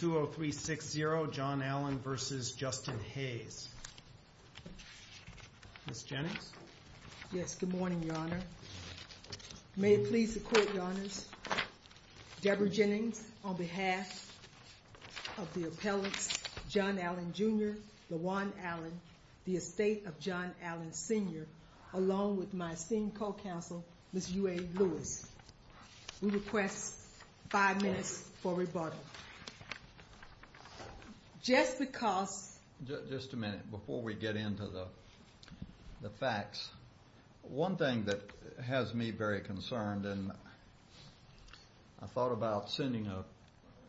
Ms. Jennings? Yes, good morning, Your Honor. May it please the Court, Your Honors, Deborah Jennings, on behalf of the appellants John Allen, Jr., LaJuan Allen, the estate of John Allen, Sr., along with my esteemed co-counsel, Ms. UA Lewis. We request five minutes for questions. Just a minute before we get into the facts. One thing that has me very concerned and I thought about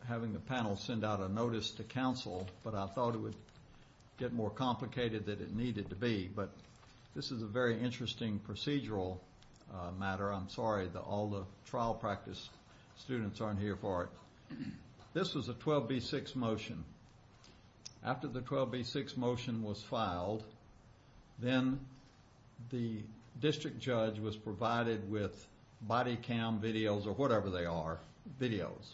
having the panel send out a notice to counsel, but I thought it would get more complicated than it needed to be, but this is a very interesting procedural matter. I'm sorry that all the trial practice students aren't here for it. This was a 12b6 motion. After the 12b6 motion was filed, then the district judge was provided with body cam videos, or whatever they are, videos.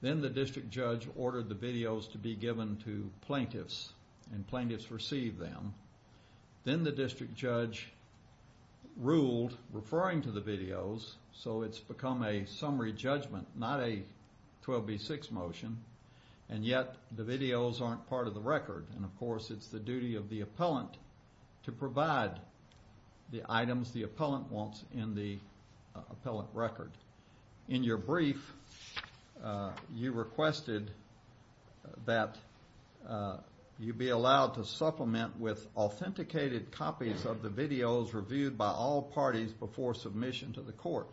Then the district judge ordered the videos to be given to plaintiffs, and plaintiffs received them. Then the district judge ruled referring to the videos, so it's become a summary judgment, not a 12b6 motion, and yet the videos aren't part of the record. Of course, it's the duty of the appellant to provide the items the appellant wants in the appellant record. In your brief, you requested that you be allowed to supplement with authenticated copies of the videos reviewed by all parties before submission to the court.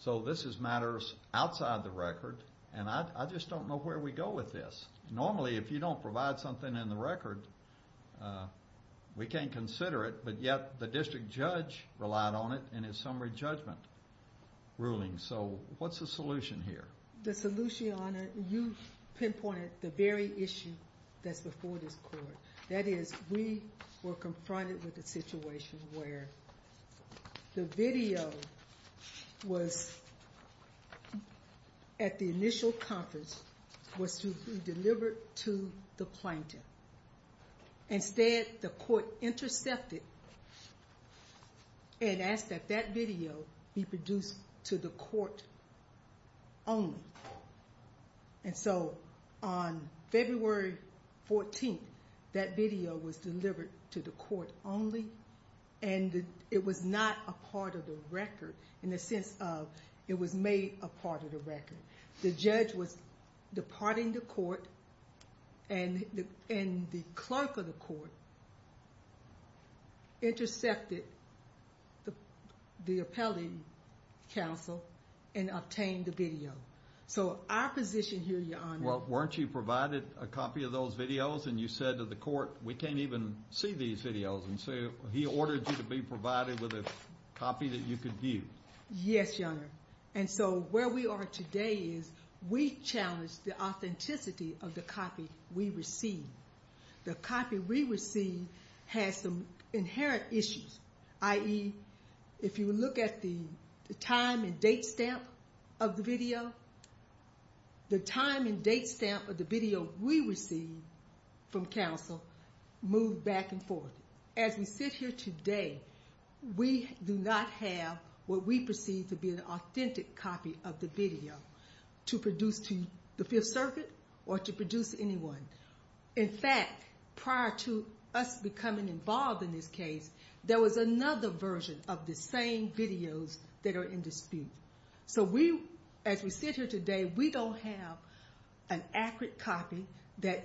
So this is matters outside the record, and I just don't know where we go with this. Normally, if you don't provide something in the record, we can't consider it, but yet the district judge relied on it in his summary judgment ruling. So what's the solution here? The solution, your honor, you pinpointed the very issue that's before this court. That is, we were confronted with a situation where the video was, at the initial conference, was to be delivered to the plaintiff. Instead, the court intercepted and asked that that video be produced to the court only. And so on February 14th, that video was delivered to the court only, and it was not a part of the record in the sense of it was made a part of the record. The judge was departing the court, and the clerk of the court intercepted the appellate counsel and obtained the video. So our position here, your honor... Well, weren't you provided a copy of those videos, and you said to the court, we can't even see these videos, and so he ordered you to be provided with a copy that you could view. Yes, your honor. And so where we are today is we challenge the authenticity of the copy we receive. The copy we receive has some inherent issues, i.e., if you look at the time and date stamp of the video, the time and date stamp of the video we receive from counsel move back and forth. As we sit here today, we do not have what we perceive to be an authentic copy of the video to produce to the Fifth Circuit or to produce to anyone. In fact, prior to us becoming involved in this case, there was another version of the same videos that are in dispute. So as we sit here today, we don't have an accurate copy that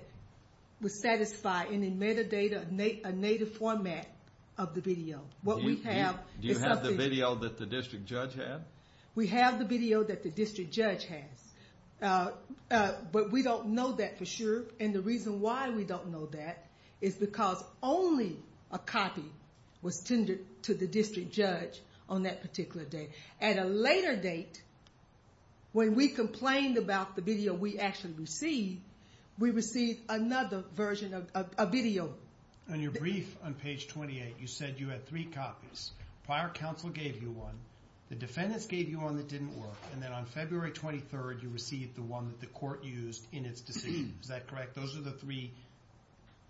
would satisfy any metadata, a native format of the video. What we have... Do you have the video that the district judge had? We have the video that the district judge has, but we don't know that for sure, and the reason why we don't know that is because only a copy was tendered to the district judge on that particular day. At a later date, when we complained about the video we actually received, we received another version of a video. On your brief on page 28, you said you had three copies. Prior counsel gave you one, the defendants gave you one that didn't work, and then on February 23rd, you received the one that the court used in its decision. Is that correct? Those are the three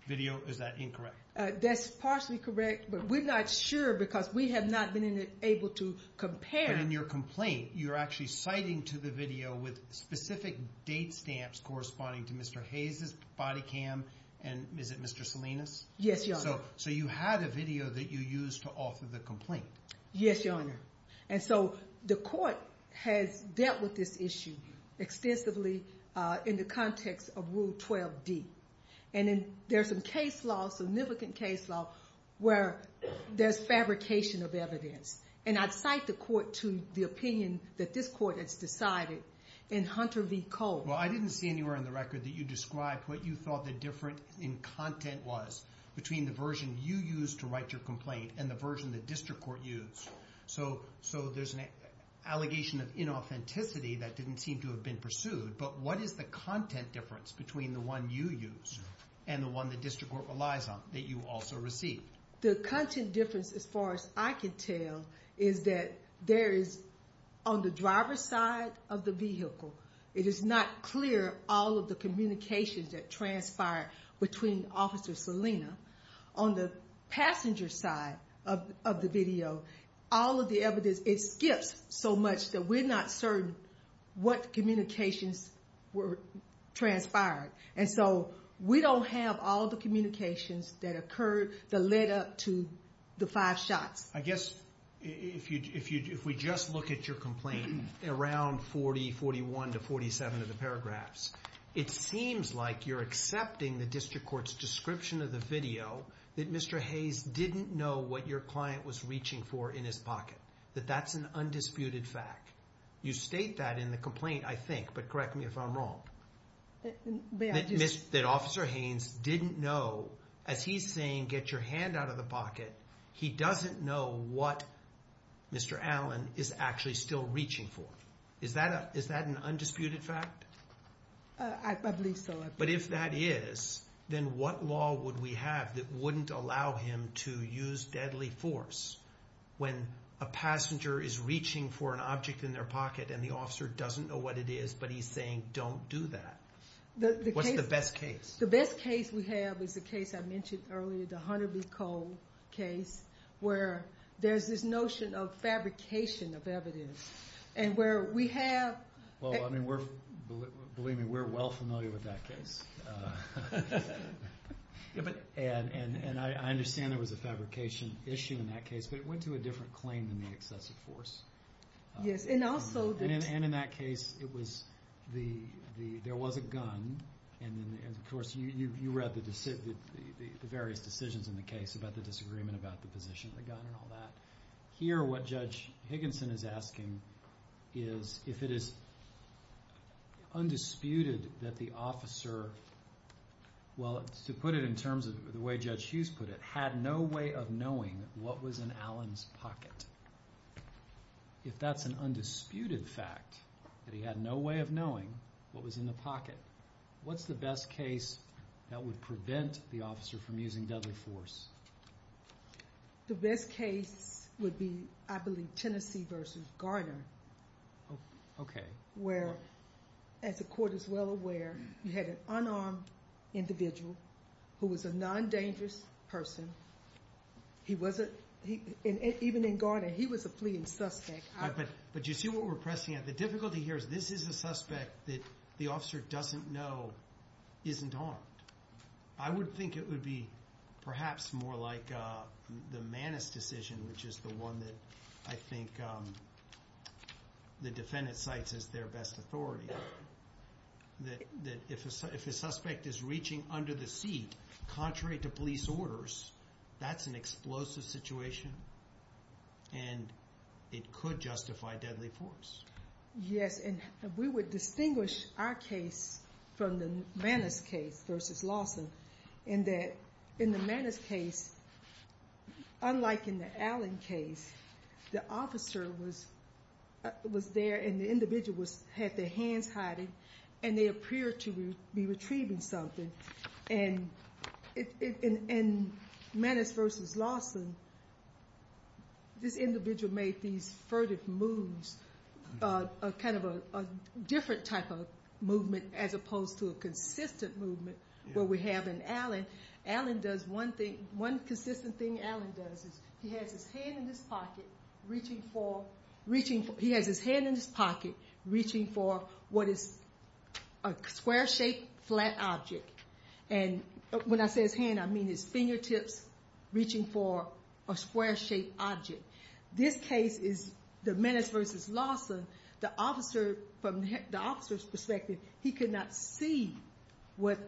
videos. Is that incorrect? That's partially correct, but we're not sure because we have not been able to compare... But in your complaint, you're actually citing to the video with specific date stamps corresponding to Mr. Hayes' body cam, and is it Mr. Salinas? Yes, Your Honor. So you had a video that you used to offer the complaint. Yes, Your Honor. And so the court has dealt with this issue extensively in the context of Rule 12D. And there's a case law, significant case law, where there's fabrication of evidence. And I'd cite the court to the opinion that this court has decided in Hunter v. Cole. Well, I didn't see anywhere in the record that you described what you thought the difference in content was between the version you used to write your complaint and the version the district court used. So there's an allegation of inauthenticity that didn't seem to have been pursued. But what is the content difference between the one you used and the one the district court relies on that you also received? The content difference, as far as I can tell, is that there is, on the driver's side of the vehicle, it is not clear all of the communications that transpired between Officer Salinas. On the passenger's side of the video, all of the evidence, it skips so much that we're not certain what communications transpired. And so we don't have all the communications that occurred that led up to the five shots. I guess if we just look at your complaint, around 40, 41 to 47 of the paragraphs, it seems like you're accepting the district court's description of the video that Mr. Hayes didn't know what your client was reaching for in his pocket, that that's an undisputed fact. You state that in the complaint, I think, but correct me if I'm wrong. That Officer Hayes didn't know, as he's saying, get your hand out of the pocket, he doesn't know what Mr. Allen is actually still reaching for. Is that an undisputed fact? I believe so. But if that is, then what law would we have that wouldn't allow him to use deadly force when a passenger is reaching for an object in their pocket and the officer doesn't know what it is, but he's saying, don't do that? What's the best case? The best case we have is the case I mentioned earlier, the Hunter v. Cole case, where there's this notion of fabrication of evidence. And where we have... Believe me, we're well familiar with that case. And I understand there was a fabrication issue in that case, but it went to a different claim than the excessive force. And in that case, there was a gun, and of course you read the various decisions in the case about the disagreement about the position of the gun and all that. Here what Judge Higginson is asking is if it is undisputed that the officer, well to put it in terms of the way Judge Hughes put it, had no way of knowing what was in Allen's pocket. If that's an undisputed fact, that he had no way of knowing what was in the pocket, what's the best case that would prevent the officer from using deadly force? The best case would be, I believe, Tennessee v. Garner. Okay. Where, as the court is well aware, you had an unarmed individual who was a non-dangerous person. He wasn't... Even in Garner, he was a fleeing suspect. But you see what we're pressing at? The difficulty here is this is a suspect that the officer doesn't know isn't harmed. I would think it would be perhaps more like the Manus decision, which is the one that I think the defendant cites as their best authority. If a suspect is reaching under the seat, contrary to police orders, that's an explosive situation, and it could justify deadly force. Yes, and we would distinguish our case from the Manus case v. Lawson in that in the Manus case, unlike in the Allen case, the officer was there and the individual had their hands hiding, and they appeared to be retrieving something. In Manus v. Lawson, this individual made these furtive moves. A different type of movement as opposed to a consistent movement where we have in Allen, one consistent thing Allen does is he has his hand in his pocket reaching for what is a square-shaped flat object. When I say his hand, I mean his fingertips reaching for a square-shaped object. This case is the Manus v. Lawson. The officer, from the officer's perspective, he could not see what...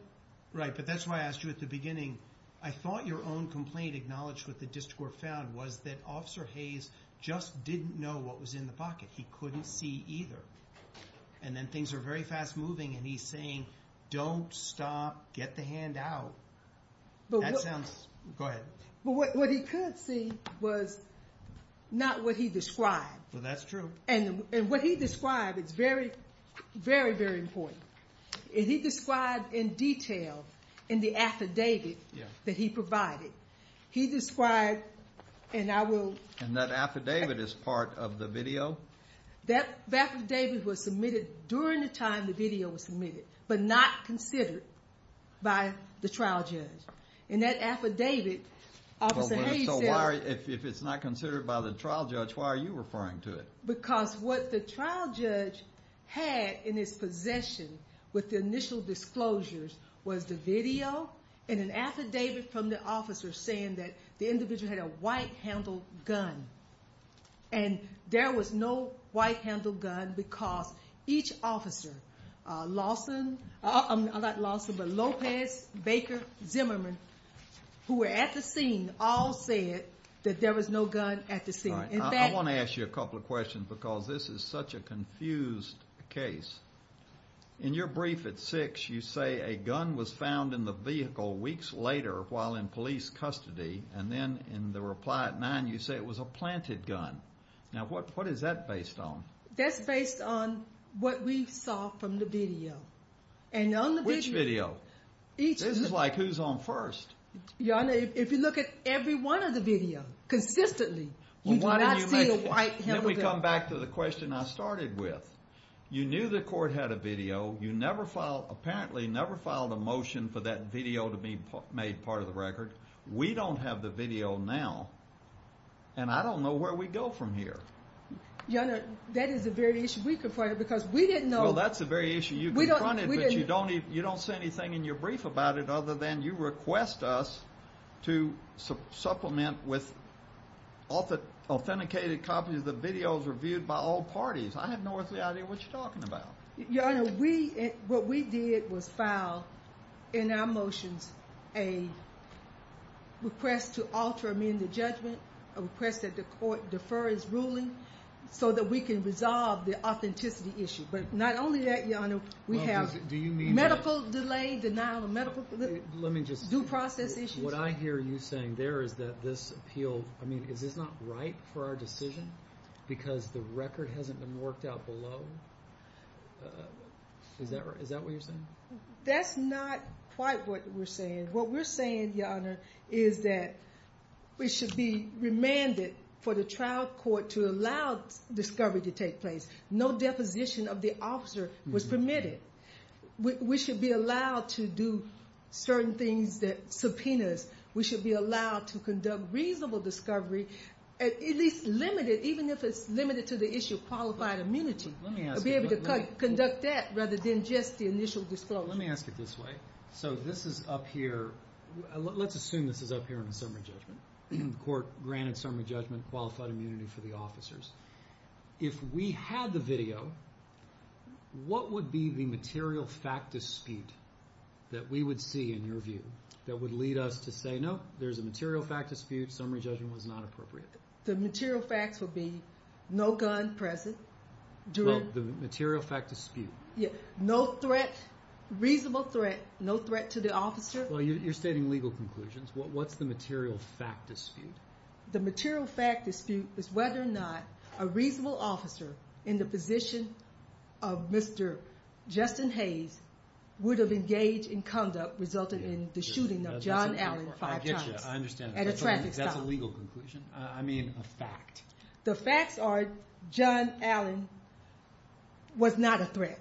Right, but that's why I asked you at the beginning. I thought your own complaint acknowledged what the district court found was that Officer Hayes just didn't know what was in the pocket. He couldn't see either, and then things are very fast moving, and he's saying, don't stop. Get the hand out. That sounds... Go ahead. What he could see was not what he described. That's true. What he described is very, very, very important. He described in detail in the affidavit that he provided. He described, and I will... That affidavit is part of the video? That affidavit was submitted during the time the video was submitted, but not considered by the trial judge. In that affidavit, Officer Hayes said... If it's not considered by the trial judge, why are you referring to it? Because what the trial judge had in his possession with the initial disclosures was the video and an affidavit from the officer saying that the individual had a white-handled gun. There was no white-handled gun because each officer, Lawson... I'm not Lawson, but Lopez, Baker, Zimmerman, who were at the scene all said that there was no gun at the scene. All right. I want to ask you a couple of questions because this is such a confused case. In your brief at six, you say a gun was found in the vehicle weeks later while in police custody, and then in the reply at nine, you say it was a planted gun. Now, what is that based on? That's based on what we saw from the video, and on the video... Which video? This is like who's on first. Your Honor, if you look at every one of the video consistently, you do not see a white-handled gun. Then we come back to the question I started with. You knew the court had a video. You never filed... Apparently, never filed a motion for that video to be made part of the record. We don't have the video now, and I don't know where we go from here. Your Honor, that is the very issue we confronted because we didn't know... Well, that's the very issue you confronted, but you don't see anything in your brief about it other than you request us to supplement with authenticated copies of the videos reviewed by all parties. I have no earthly idea what you're talking about. Your Honor, what we did was file in our motions a request to alter amended judgment, a request that the court defer his ruling so that we can resolve the authenticity issue. Not only that, Your Honor, we have medical delay, denial of medical due process issues. What I hear you saying there is that this appeal... Is this not right for our decision because the record hasn't been worked out below? Is that what you're saying? That's not quite what we're saying. What we're saying, Your Honor, is that we should be remanded for the trial court to allow discovery to take place. No deposition of the officer was permitted. We should be allowed to do certain things, subpoenas. We should be allowed to even if it's limited to the issue of qualified immunity, to be able to conduct that rather than just the initial disclosure. Let me ask it this way. Let's assume this is up here in the summary judgment. The court granted summary judgment, qualified immunity for the officers. If we had the video, what would be the material fact dispute that we would see in your view that would lead us to say, no, there's a material fact dispute. Summary judgment was not appropriate. The material facts would be, no gun present during... The material fact dispute. No threat, reasonable threat, no threat to the officer. Well, you're stating legal conclusions. What's the material fact dispute? The material fact dispute is whether or not a reasonable officer in the position of Mr. Justin Hayes would have engaged in conduct resulting in the shooting of John Allen five times at a traffic stop. I get you. I understand. That's a legal conclusion. I mean, a fact. The facts are John Allen was not a threat,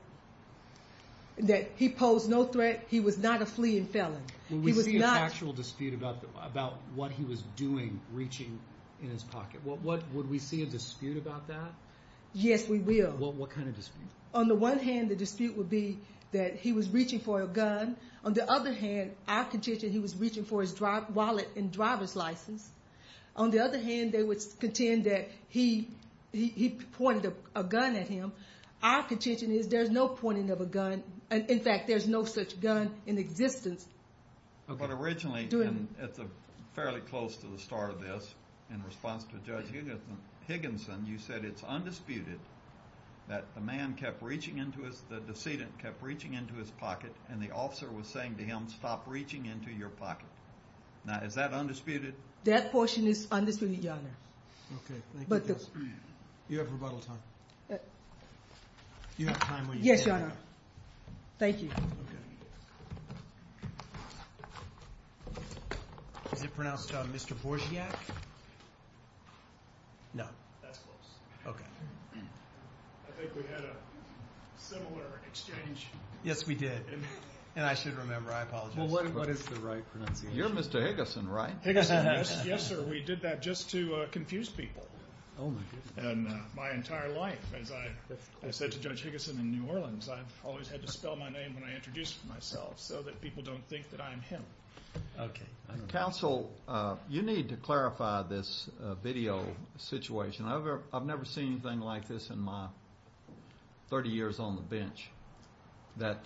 that he posed no threat. He was not a fleeing felon. He was not- Would we see an actual dispute about what he was doing, reaching in his pocket? Would we see a dispute about that? Yes, we will. What kind of dispute? On the one hand, the dispute would be that he was reaching for a gun. On the other hand, our contention, he was reaching for his wallet and driver's license. On the other hand, they would contend that he pointed a gun at him. Our contention is there's no pointing of a gun. In fact, there's no such gun in existence. But originally, and it's fairly close to the start of this, in response to Judge Higginson, you said it's undisputed that the man kept reaching into his... The decedent kept reaching into his pocket, and the officer was saying to him, stop reaching into your pocket. Now, is that undisputed? That portion is undisputed, Your Honor. Okay, thank you, Judge. You have rebuttal time. You have time when you- Yes, Your Honor. Thank you. Okay. Is it pronounced Mr. Borsiak? No. That's close. Okay. I think we had a similar exchange. Yes, we did. And I should remember, I apologize. Well, what is the right pronunciation? You're Mr. Higginson, right? Higginson, yes, sir. We did that just to confuse people. Oh, my goodness. And my entire life, as I said to Judge Higginson in New Orleans, I've always had to spell my name when I introduced myself so that people don't think that I'm him. Okay. Counsel, you need to clarify this video situation. I've never seen anything like this in my 30 years on the bench, that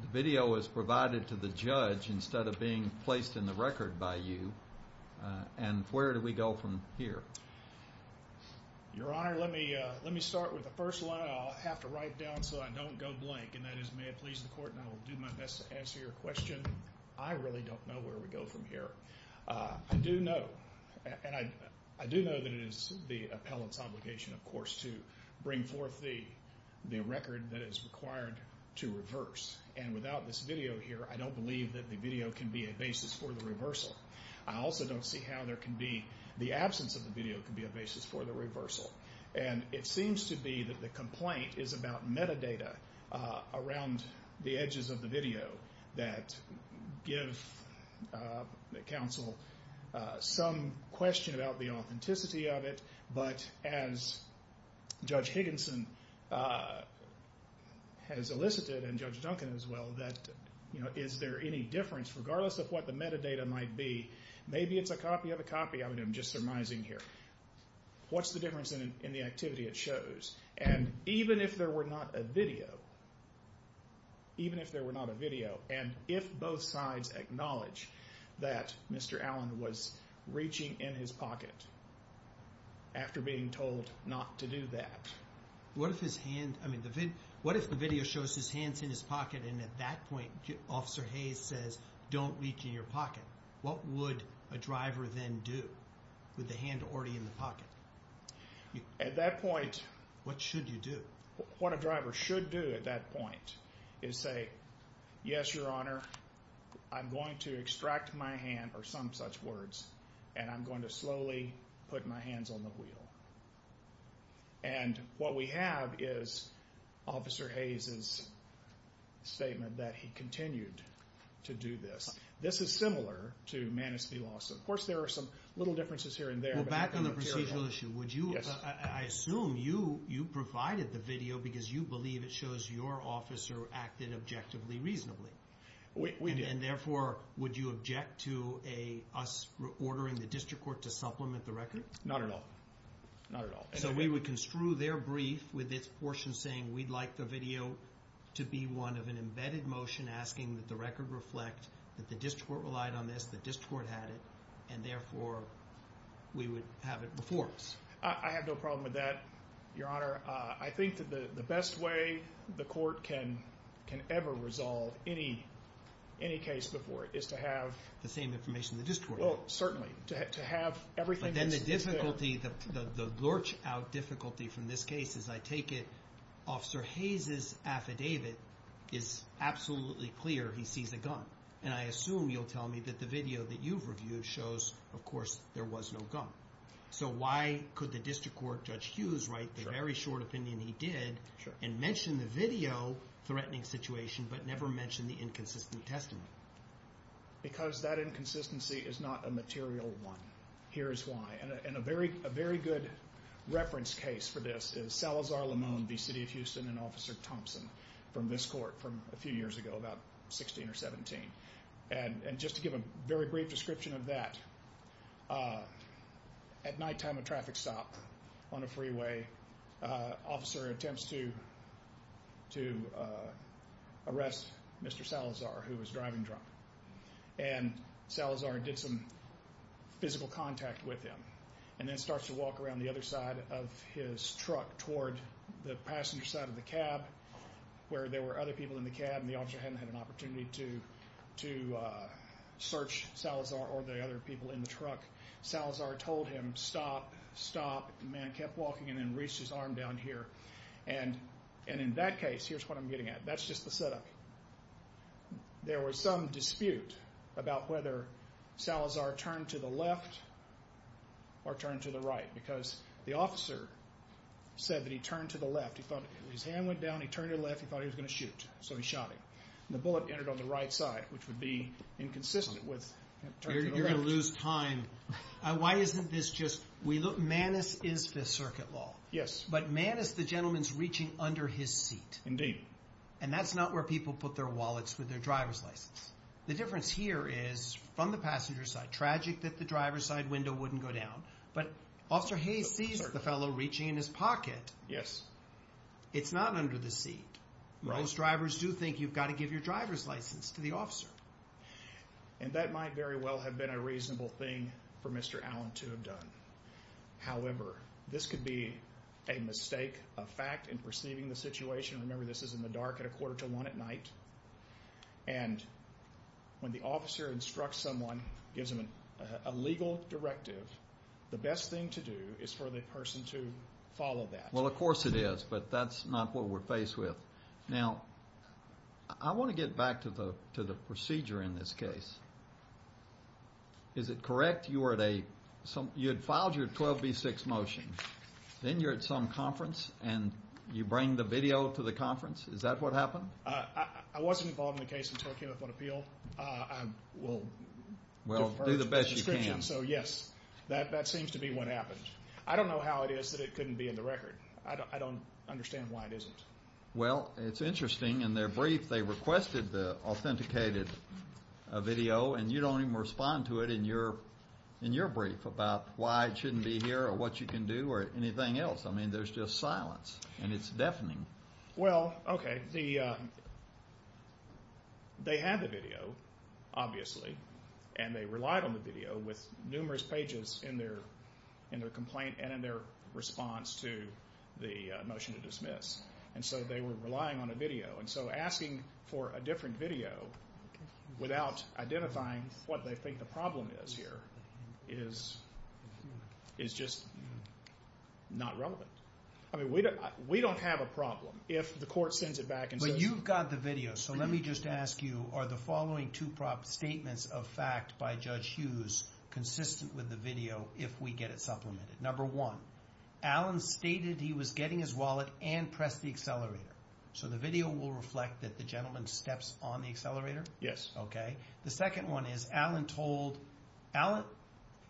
the video was provided to the judge instead of being placed in the record by you. And where do we go from here? Your Honor, let me start with the first line. I'll have to write down so I don't go blank. And that is, may it please the court, and I will do my best to answer your question. I really don't know where we go from here. I do know, and I do know that it is the record that is required to reverse. And without this video here, I don't believe that the video can be a basis for the reversal. I also don't see how there can be, the absence of the video can be a basis for the reversal. And it seems to be that the complaint is about metadata around the edges of the video that give counsel some question about the authenticity of it. But as Judge Higginson has elicited, and Judge Duncan as well, that is there any difference, regardless of what the metadata might be, maybe it's a copy of a copy. I'm just surmising here. What's the difference in the activity it shows? And even if there were not a video, even if there were not a video, and if both sides acknowledge that Mr. Allen was reaching in his pocket after being told not to do that. What if his hand, I mean, what if the video shows his hands in his pocket, and at that point, Officer Hayes says, don't reach in your pocket? What would a driver then do with the hand already in the pocket? At that point, what should you do? What a driver should do at that point is say, yes, your honor, I'm going to extract my hand, or some such words, and I'm going to slowly put my hands on the wheel. And what we have is Officer Hayes's statement that he continued to do this. This is similar to Manistee Lawson. Of course, there are some little differences here and there. Well, back on the procedural issue, I assume you provided the video because you believe it shows your officer acted objectively reasonably. We did. And therefore, would you object to us ordering the district court to supplement the record? Not at all. Not at all. So we would construe their brief with its portion saying, we'd like the video to be one of an embedded motion asking that the record reflect that the district court relied on this, the district court had it, and therefore, we would have it before us. I have no problem with that, your honor. I think that the best way the court can ever resolve any case before it is to have... The same information the district court has. Well, certainly. To have everything that's... But then the difficulty, the lurch out difficulty from this case is I take it Officer Hayes's affidavit is absolutely clear he sees a gun. And I assume you'll tell me that video that you've reviewed shows, of course, there was no gun. So why could the district court, Judge Hughes, write the very short opinion he did and mention the video threatening situation, but never mention the inconsistent testimony? Because that inconsistency is not a material one. Here's why. And a very good reference case for this is Salazar-Lamone v. City of Houston and Officer Thompson from this court from a few years ago, about 16 or 17. And just to give a very brief description of that, at nighttime at a traffic stop on a freeway, officer attempts to arrest Mr. Salazar, who was driving drunk. And Salazar did some physical contact with him, and then starts to walk around the other side of his truck toward the passenger side of the cab, where there were other people in the cab and the officer hadn't had an opportunity to search Salazar or the other people in the truck. Salazar told him, stop, stop. The man kept walking and then reached his arm down here. And in that case, here's what I'm getting at. That's just the setup. There was some dispute about whether Salazar turned to the left or turned to the right, because the officer said that he turned to the left. His hand went down, he turned to the left, he thought he was going to shoot, so he shot him. And the bullet entered on the right side, which would be inconsistent with turning to the left. You're going to lose time. Why isn't this just... Manus is the circuit law. Yes. But Manus, the gentleman's reaching under his seat. Indeed. And that's not where people put their wallets with their driver's license. The difference here is, from the passenger side, tragic that the driver's window wouldn't go down. But Officer Hayes sees the fellow reaching in his pocket. Yes. It's not under the seat. Right. Most drivers do think you've got to give your driver's license to the officer. And that might very well have been a reasonable thing for Mr. Allen to have done. However, this could be a mistake of fact in perceiving the situation. Remember, this is in the dark at a quarter to one at night. And when the officer instructs someone, gives them a legal directive, the best thing to do is for the person to follow that. Well, of course it is. But that's not what we're faced with. Now, I want to get back to the procedure in this case. Is it correct you were at a... You had filed your 12B6 motion. Then you're at some conference, and you bring the video to the conference? Is that what happened? I wasn't involved in the case until I came up on appeal. Well, do the best you can. So, yes. That seems to be what happened. I don't know how it is that it couldn't be in the record. I don't understand why it isn't. Well, it's interesting. In their brief, they requested the authenticated video, and you don't even respond to it in your brief about why it shouldn't be here or what you can do or anything else. I mean, there's just silence, and it's deafening. Well, okay. They had the video, obviously, and they relied on the video with numerous pages in their complaint and in their response to the motion to dismiss. And so they were relying on a video. And so asking for a different video without identifying what they think the problem is here is just not relevant. I mean, we don't have a problem if the court sends it back and says... Are the following two statements of fact by Judge Hughes consistent with the video if we get it supplemented? Number one, Allen stated he was getting his wallet and pressed the accelerator. So the video will reflect that the gentleman steps on the accelerator? Yes. Okay. The second one is,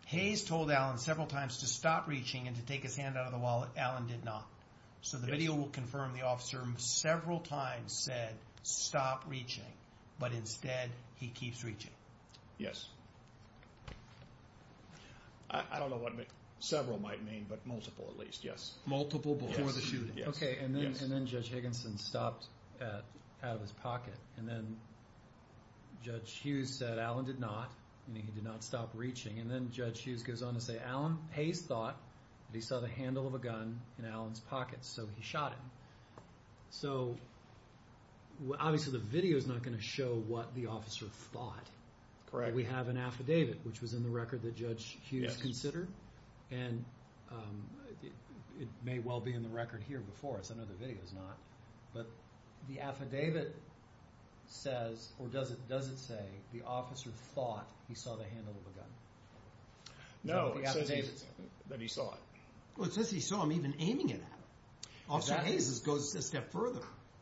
Hayes told Allen several times to stop reaching and to take his hand out of the wallet. Allen did not. So the video will confirm the officer several times said, stop reaching, but instead he keeps reaching. Yes. I don't know what several might mean, but multiple at least. Yes. Multiple before the shooting. Yes. Okay. And then Judge Higginson stopped out of his pocket. And then Judge Hughes said Allen did not, meaning he did not stop in Allen's pocket, so he shot him. So obviously the video's not gonna show what the officer thought. Correct. We have an affidavit, which was in the record that Judge Hughes considered. And it may well be in the record here before us. I know the video's not. But the affidavit says, or does it say, the officer thought he saw the handle of a gun? No, it says that he saw it. Well, it says he saw him even aiming it at him. Officer Hayes goes a step further.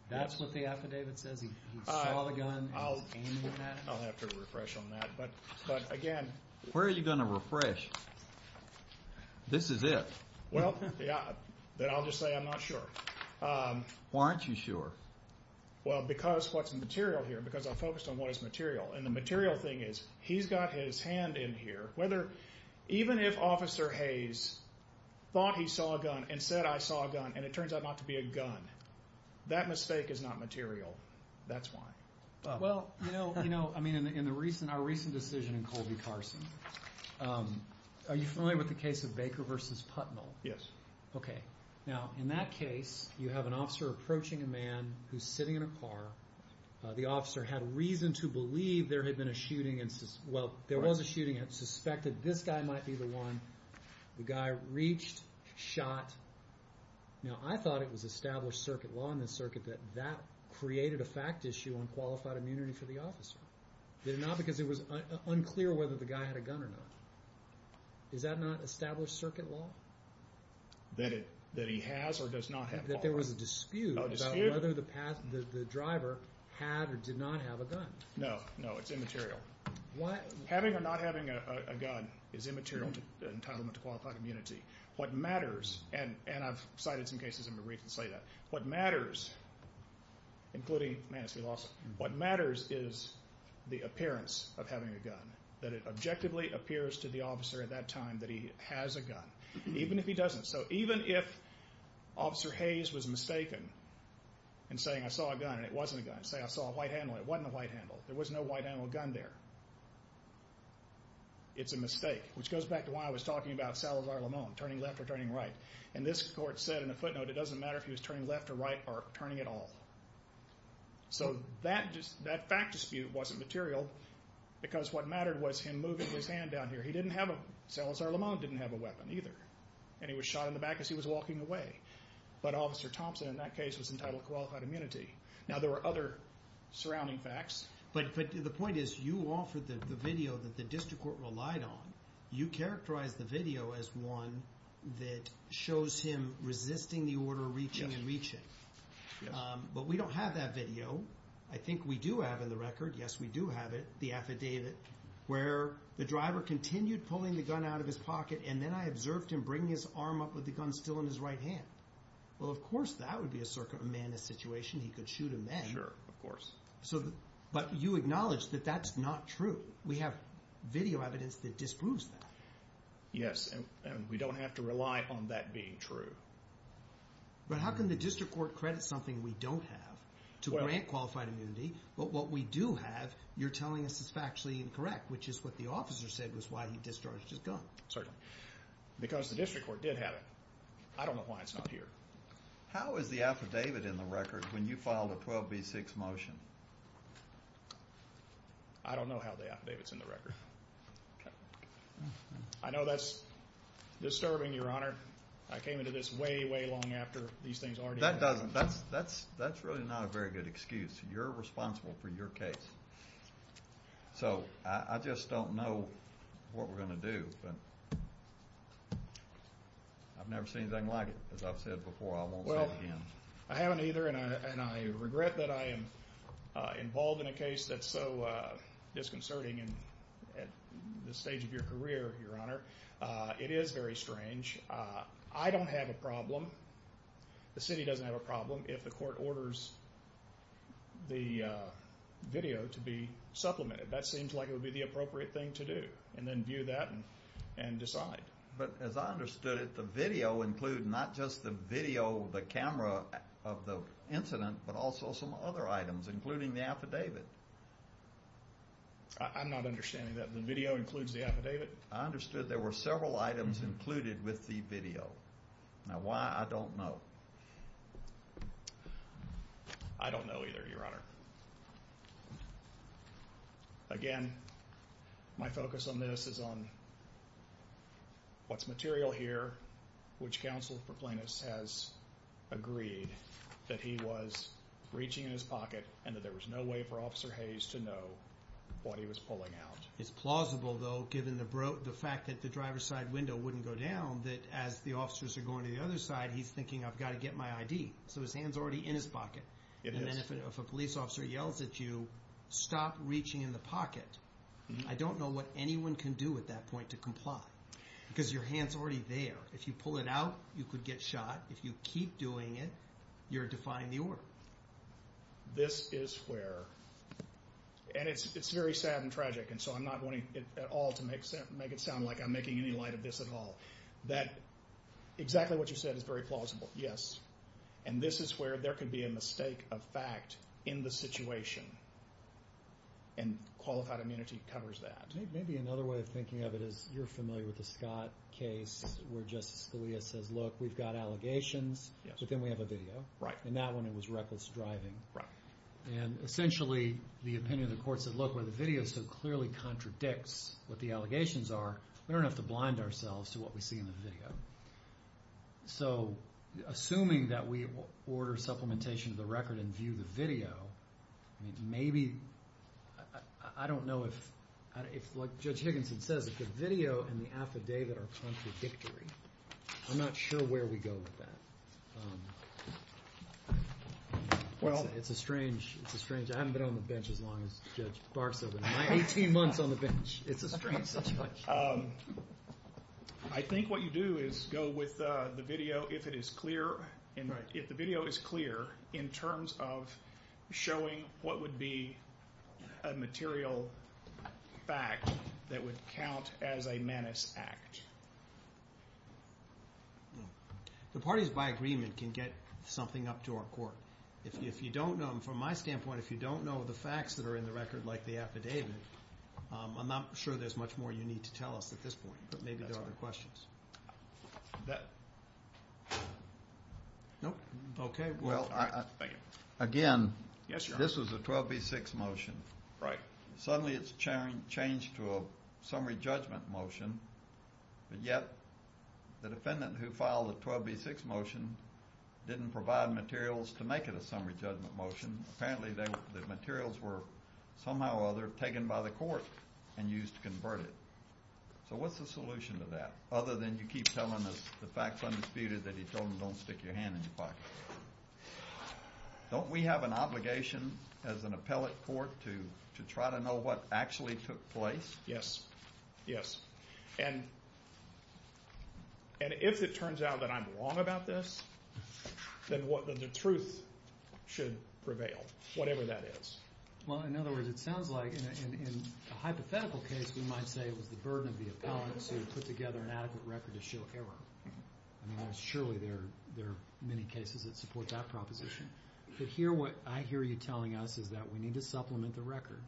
That's what the affidavit says, he saw the gun and he's aiming it at him? I'll have to refresh on that. But again... Where are you gonna refresh? This is it. Well, yeah. Then I'll just say I'm not sure. Why aren't you sure? Well, because what's in the material here, because I focused on what is material. And the material thing is, he's got his hand in here, whether... Even if thought he saw a gun, and said I saw a gun, and it turns out not to be a gun. That mistake is not material. That's why. Well, you know, I mean, in our recent decision in Colby Carson, are you familiar with the case of Baker versus Putnell? Yes. Okay. Now, in that case, you have an officer approaching a man who's sitting in a car. The officer had reason to believe there had been a shooting. Well, there was a shooting and suspected this guy might be the one. The guy reached, shot. Now, I thought it was established circuit law in the circuit that that created a fact issue on qualified immunity for the officer. Did it not? Because it was unclear whether the guy had a gun or not. Is that not established circuit law? That he has or does not have a firearm? That there was a dispute about whether the driver had or did not have a gun. No, no, it's immaterial. Having or not having a gun is immaterial to entitlement to qualified immunity. What matters, and I've cited some cases in my brief that say that, what matters, including Manistee Lawson, what matters is the appearance of having a gun. That it objectively appears to the officer at that time that he has a gun, even if he doesn't. So even if Officer Hayes was mistaken in saying I saw a gun, and it wasn't a gun. Say I saw a white handle, and it wasn't a white handle. There was no white handle gun there. It's a mistake, which goes back to why I was talking about Salazar-Lamon, turning left or turning right. And this court said in a footnote, it doesn't matter if he was turning left or right or turning at all. So that fact dispute wasn't material because what mattered was him moving his hand down here. Salazar-Lamon didn't have a weapon either, and he was shot in the back as he was walking away. But Officer Thompson in that case was entitled to qualified immunity. Now there are other surrounding facts. But the point is, you offered the video that the district court relied on. You characterized the video as one that shows him resisting the order of reaching and reaching. But we don't have that video. I think we do have in the record, yes, we do have it, the affidavit, where the driver continued pulling the gun out of his pocket, and then I observed him bringing his arm up with the gun still in his right hand. Well, of course that would be a circumstances situation. He could shoot him then. Sure, of course. But you acknowledge that that's not true. We have video evidence that disproves that. Yes, and we don't have to rely on that being true. But how can the district court credit something we don't have to grant qualified immunity, but what we do have, you're telling us is factually incorrect, which is what the officer said was why he discharged his gun. Certainly. Because the district court did have it. I don't know why it's not here. How is the affidavit in the record when you filed a 12B6 motion? I don't know how the affidavit's in the record. I know that's disturbing, your honor. I came into this way, way long after these things already That doesn't, that's really not a very good excuse. You're responsible for your case. So I just don't know what we're going to do, but I've never seen anything like it. As I've said before, I won't say it again. Well, I haven't either and I regret that I am involved in a case that's so disconcerting and at this stage of your career, your honor, it is very strange. I don't have a That seems like it would be the appropriate thing to do and then view that and decide. But as I understood it, the video include not just the video, the camera of the incident, but also some other items, including the affidavit. I'm not understanding that the video includes the affidavit. I understood there were several items included with the video. Now why, I don't know. I don't know either, your honor. Again, my focus on this is on what's material here, which counsel for plaintiffs has agreed that he was reaching in his pocket and that there was no way for Officer Hayes to know what he was pulling out. It's plausible though, given the fact that the driver's side window wouldn't go down, that as the officers are going to the other side, he's thinking I've got to get my ID. So his hand's already in his pocket. And then if a police officer yells at you, stop reaching in the pocket. I don't know what anyone can do at that point to comply because your hand's already there. If you pull it out, you could get shot. If you keep doing it, you're defying the order. This is where, and it's very sad and tragic and so I'm not wanting at all to make it sound like I'm making any light of this at all. That exactly what you said is very plausible, yes. And this is where there could be a mistake of fact in the situation. And qualified immunity covers that. Maybe another way of thinking of it is you're familiar with the Scott case where Justice Scalia says look, we've got allegations, but then we have a video. And that one it was reckless driving. And essentially the opinion of the court said look, where the video so clearly contradicts the allegations are, we don't have to blind ourselves to what we see in the video. So assuming that we order supplementation of the record and view the video, I mean maybe, I don't know if, like Judge Higginson says, if the video and the affidavit are contradictory, I'm not sure where we go with that. It's a strange, it's a strange, I haven't been on the bench, it's a strange situation. I think what you do is go with the video if it is clear, if the video is clear in terms of showing what would be a material fact that would count as a menace act. The parties by agreement can get something up to our court. If you don't know, from my standpoint, if you don't know the facts that are in the record like the affidavit, I'm not sure there's much more you need to tell us at this point, but maybe there are other questions. Nope. Okay. Well, thank you. Again, this was a 12B6 motion. Right. Suddenly it's changed to a summary judgment motion, but yet the defendant who filed the 12B6 motion didn't provide materials to make it a summary judgment motion. Apparently the materials were somehow or other taken by the court and used to convert it. So what's the solution to that? Other than you keep telling us the facts undisputed that he told them don't stick your hand in your pocket. Don't we have an obligation as an appellate court to try to know what actually took place? Yes. Yes. And if it turns out that I'm wrong about this, then what the truth should prevail, whatever that is. Well, in other words, it sounds like in a hypothetical case, we might say it was the burden of the appellant to put together an adequate record to show error. I mean, surely there are many cases that support that proposition. But here, what I hear you telling us is that we need to supplement the record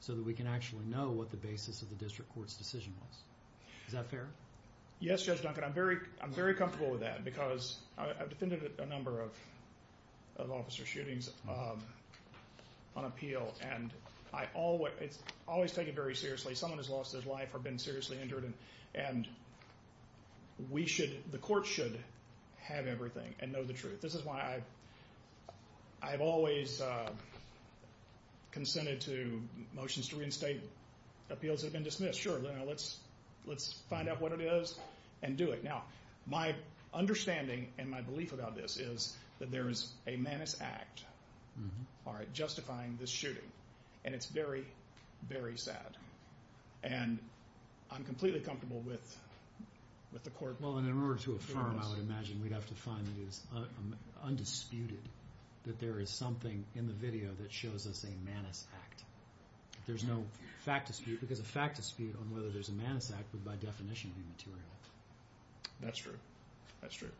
so that we can actually know what the basis of the district court's decision was. Is that fair? Yes, Judge Duncan. I'm very comfortable with that because I've defended a number of officer shootings on appeal, and I always take it very seriously. Someone has lost his life or been seriously injured, and the court should have everything and know the truth. This is why I've always consented to motions to reinstate appeals that let's find out what it is and do it. Now, my understanding and my belief about this is that there is a manus act justifying this shooting, and it's very, very sad. And I'm completely comfortable with the court... Well, in order to affirm, I would imagine we'd have to find that it is undisputed that there is something in the video that shows us a manus act. There's no fact dispute, because a fact dispute on whether there's a manus act would by definition be material. That's true. That's true.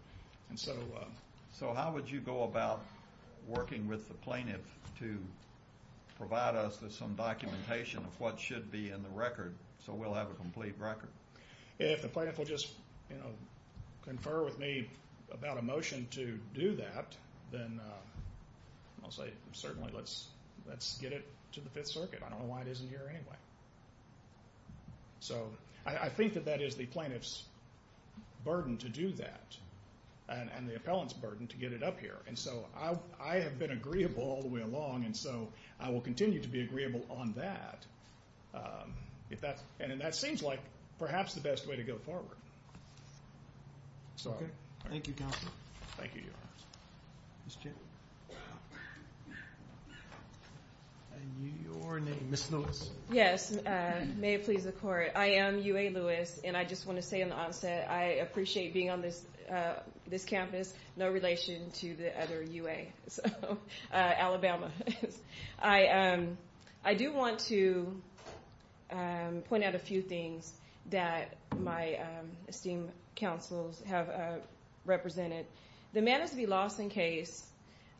So how would you go about working with the plaintiff to provide us with some documentation of what should be in the record so we'll have a complete record? If the plaintiff will just confer with me about a motion to do that, then I'll say certainly let's get it to the Fifth Circuit. I don't know why it isn't here anyway. So I think that that is the plaintiff's burden to do that, and the appellant's burden to get it up here. And so I have been agreeable all the way along, and so I will continue to be agreeable on that. And that seems like perhaps the best way to go forward. It's okay. Thank you, Counselor. Thank you, Your Honor. Ms. Cheney. And your name, Ms. Lewis. Yes, may it please the Court. I am UA Lewis, and I just want to say on the onset, I appreciate being on this campus, no relation to the other UA, Alabama. I do want to point out a few things that my esteemed counsels have represented. The Manus v. Lawson case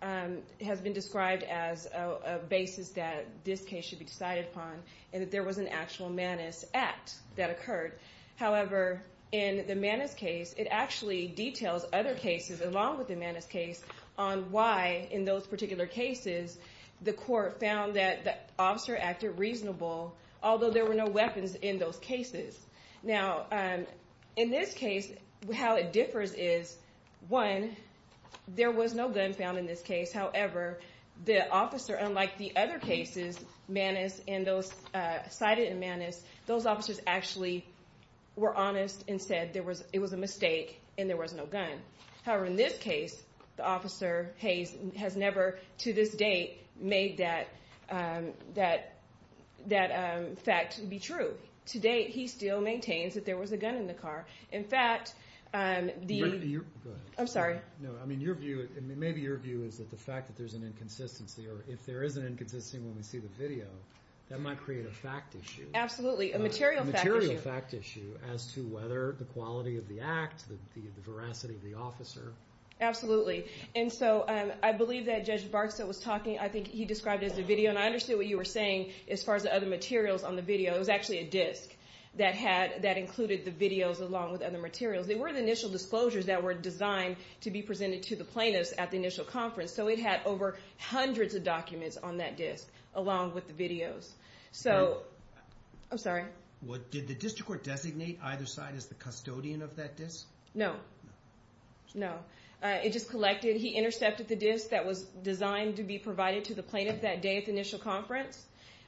has been described as a basis that this case should be decided upon, and that there was an actual Manus Act that occurred. However, in the Manus case, it actually details other cases along with the Manus case on why, in those particular cases, the court found that the officer acted reasonable, although there were no weapons in those cases. Now, in this case, how it differs is, one, there was no gun found in this case. However, the officer, unlike the other cases cited in Manus, those officers actually were honest and said it was a mistake and there was no gun. However, in this case, the officer, Hayes, has never, to this date, made that fact be true. To date, he still maintains that there was a gun in the car. In fact, the... Go ahead. I'm sorry. No, I mean, maybe your view is that the fact that there's an inconsistency, or if there is an inconsistency when we see the video, that might create a fact issue. Absolutely, a material fact issue. A material fact issue as to whether the quality of the act, the veracity of the officer. Absolutely. And so, I believe that Judge Barksdale was talking, I think he described it as a video, and I understood what you were saying as far as the other materials on the video. It was actually a disc that included the videos along with other materials. They were the initial disclosures that were designed to be presented to the plaintiffs at the initial conference. So, it had over hundreds of documents on that disc, along with the videos. So... I'm sorry. Did the district court designate either side as the custodian of that disc? No. No. It just collected... He intercepted the disc that was designed to be provided to the plaintiff that day at the initial conference.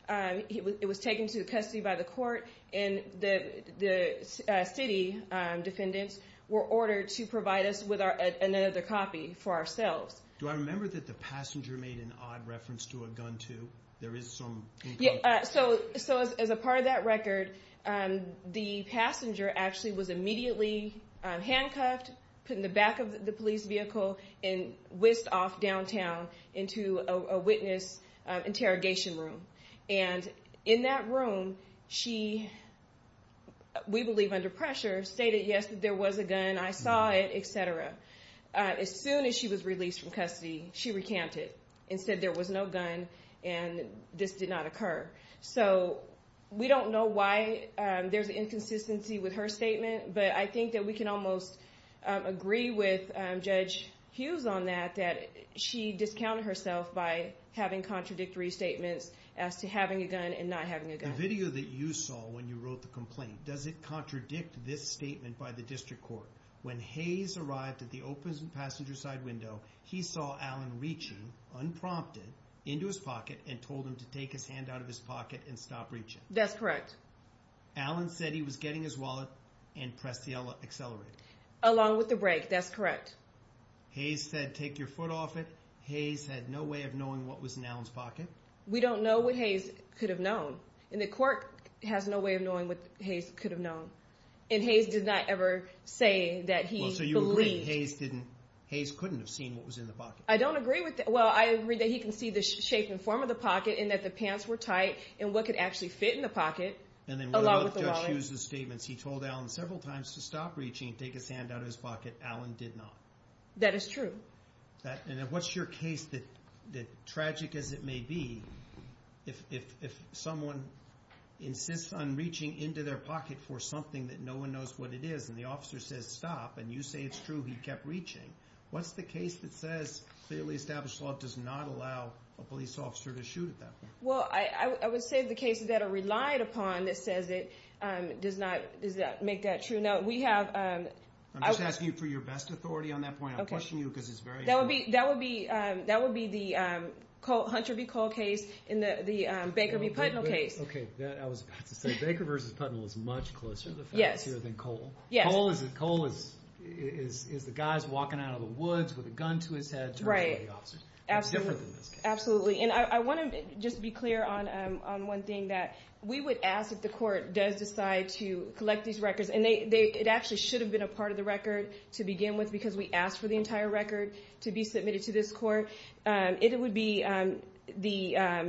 It was taken to custody by the court, and the city defendants were ordered to provide us with another copy for ourselves. Do I remember that the passenger made an odd reference to a gun too? There is some... So, as a part of that record, the passenger actually was immediately handcuffed, put in the back of the police vehicle, and whisked off downtown into a witness interrogation room. And in that room, she, we believe under pressure, stated, yes, there was a gun, I saw it, etc. As soon as she was released from custody, she recanted, and said there was no gun, and this did not occur. So, we don't know why there's an inconsistency with her statement, but I think that we can almost agree with Judge Hughes on that, that she discounted herself by having contradictory statements as to having a gun and not having a gun. The video that you saw when you wrote the complaint, does it contradict this statement by the district court? When Hayes arrived at the open passenger side window, he saw Alan reaching, unprompted, into his pocket and told him to take his hand out of his pocket and stop reaching. That's correct. Alan said he was getting his wallet and pressed the accelerator. Along with the brake, that's correct. Hayes said, take your foot off it. Hayes had no way of knowing what was in Alan's pocket. We don't know what Hayes could have known, and the court has no way of knowing what Hayes could have known. And Hayes did not ever say that he believed. So, you agree that Hayes couldn't have seen what was in the pocket? I don't agree with that. Well, I agree that he can see the shape and form of the pocket, and that the pants were tight, and what could actually fit in the pocket, along with the wallet. And then when we looked at Judge Hughes' statements, he told Alan several times to stop reaching, take his hand out of his pocket. Alan did not. That is true. And what's your case that, tragic as it may be, if someone insists on reaching into their pocket for something that no one knows what it is, and the officer says stop, and you say it's true, he kept reaching. What's the case that says clearly established law does not allow a police officer to shoot at that point? Well, I would say the cases that are relied upon that says it does not make that true. Now, we have... I'm just asking you for your best authority on that point. I'm pushing you because it's very important. That would be the Hunter v. Cole case in the Baker v. Putnam case. Okay. I was about to say, Baker v. Putnam was much closer to the facts here than Cole. Yes. Cole is the guy who's walking out of the woods with a gun to his head. Right. It's different than this case. Absolutely. And I want to just be clear on one thing, that we would ask if the court does decide to collect these records, and it actually should have been a part of the record to begin with because we asked for the entire record to be submitted to this court. It would be the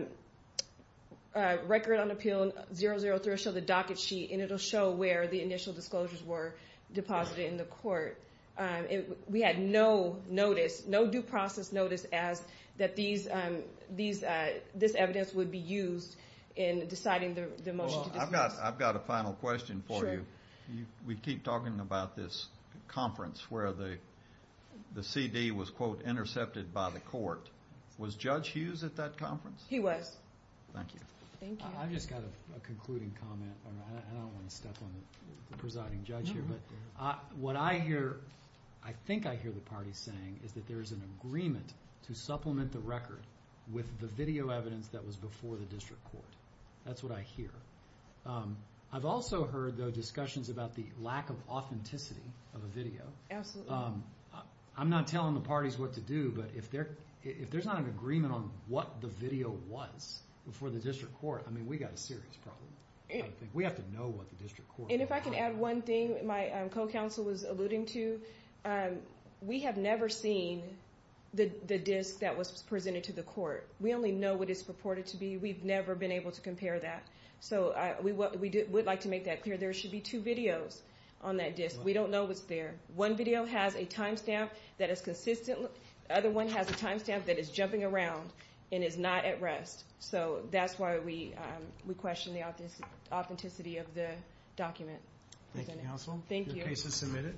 record on Appeal 003, it'll show the docket sheet, and it'll show where the initial disclosures were deposited in the court. We had no notice, no due process notice as that this evidence would be used in deciding the motion to dismiss. Well, I've got a final question for you. Sure. We keep talking about this conference where the CD was, quote, intercepted by the court. Was Judge Hughes at that conference? He was. Thank you. Thank you. I've just got a concluding comment. I don't want to step on the presiding judge here, but what I hear, I think I hear the party saying, is that there is an agreement to supplement the record with the video evidence that was before the district court. That's what I hear. I've also heard, though, discussions about the authenticity of a video. Absolutely. I'm not telling the parties what to do, but if there's not an agreement on what the video was before the district court, we've got a serious problem. We have to know what the district court And if I can add one thing my co-counsel was alluding to, we have never seen the disc that was presented to the court. We only know what it's purported to be. We've never been able to compare that. We would like to make that clear. There should be two videos on that disc. We don't know what's there. One video has a timestamp that is consistent. The other one has a timestamp that is jumping around and is not at rest. That's why we question the authenticity of the document. Thank you, counsel. Your case is submitted.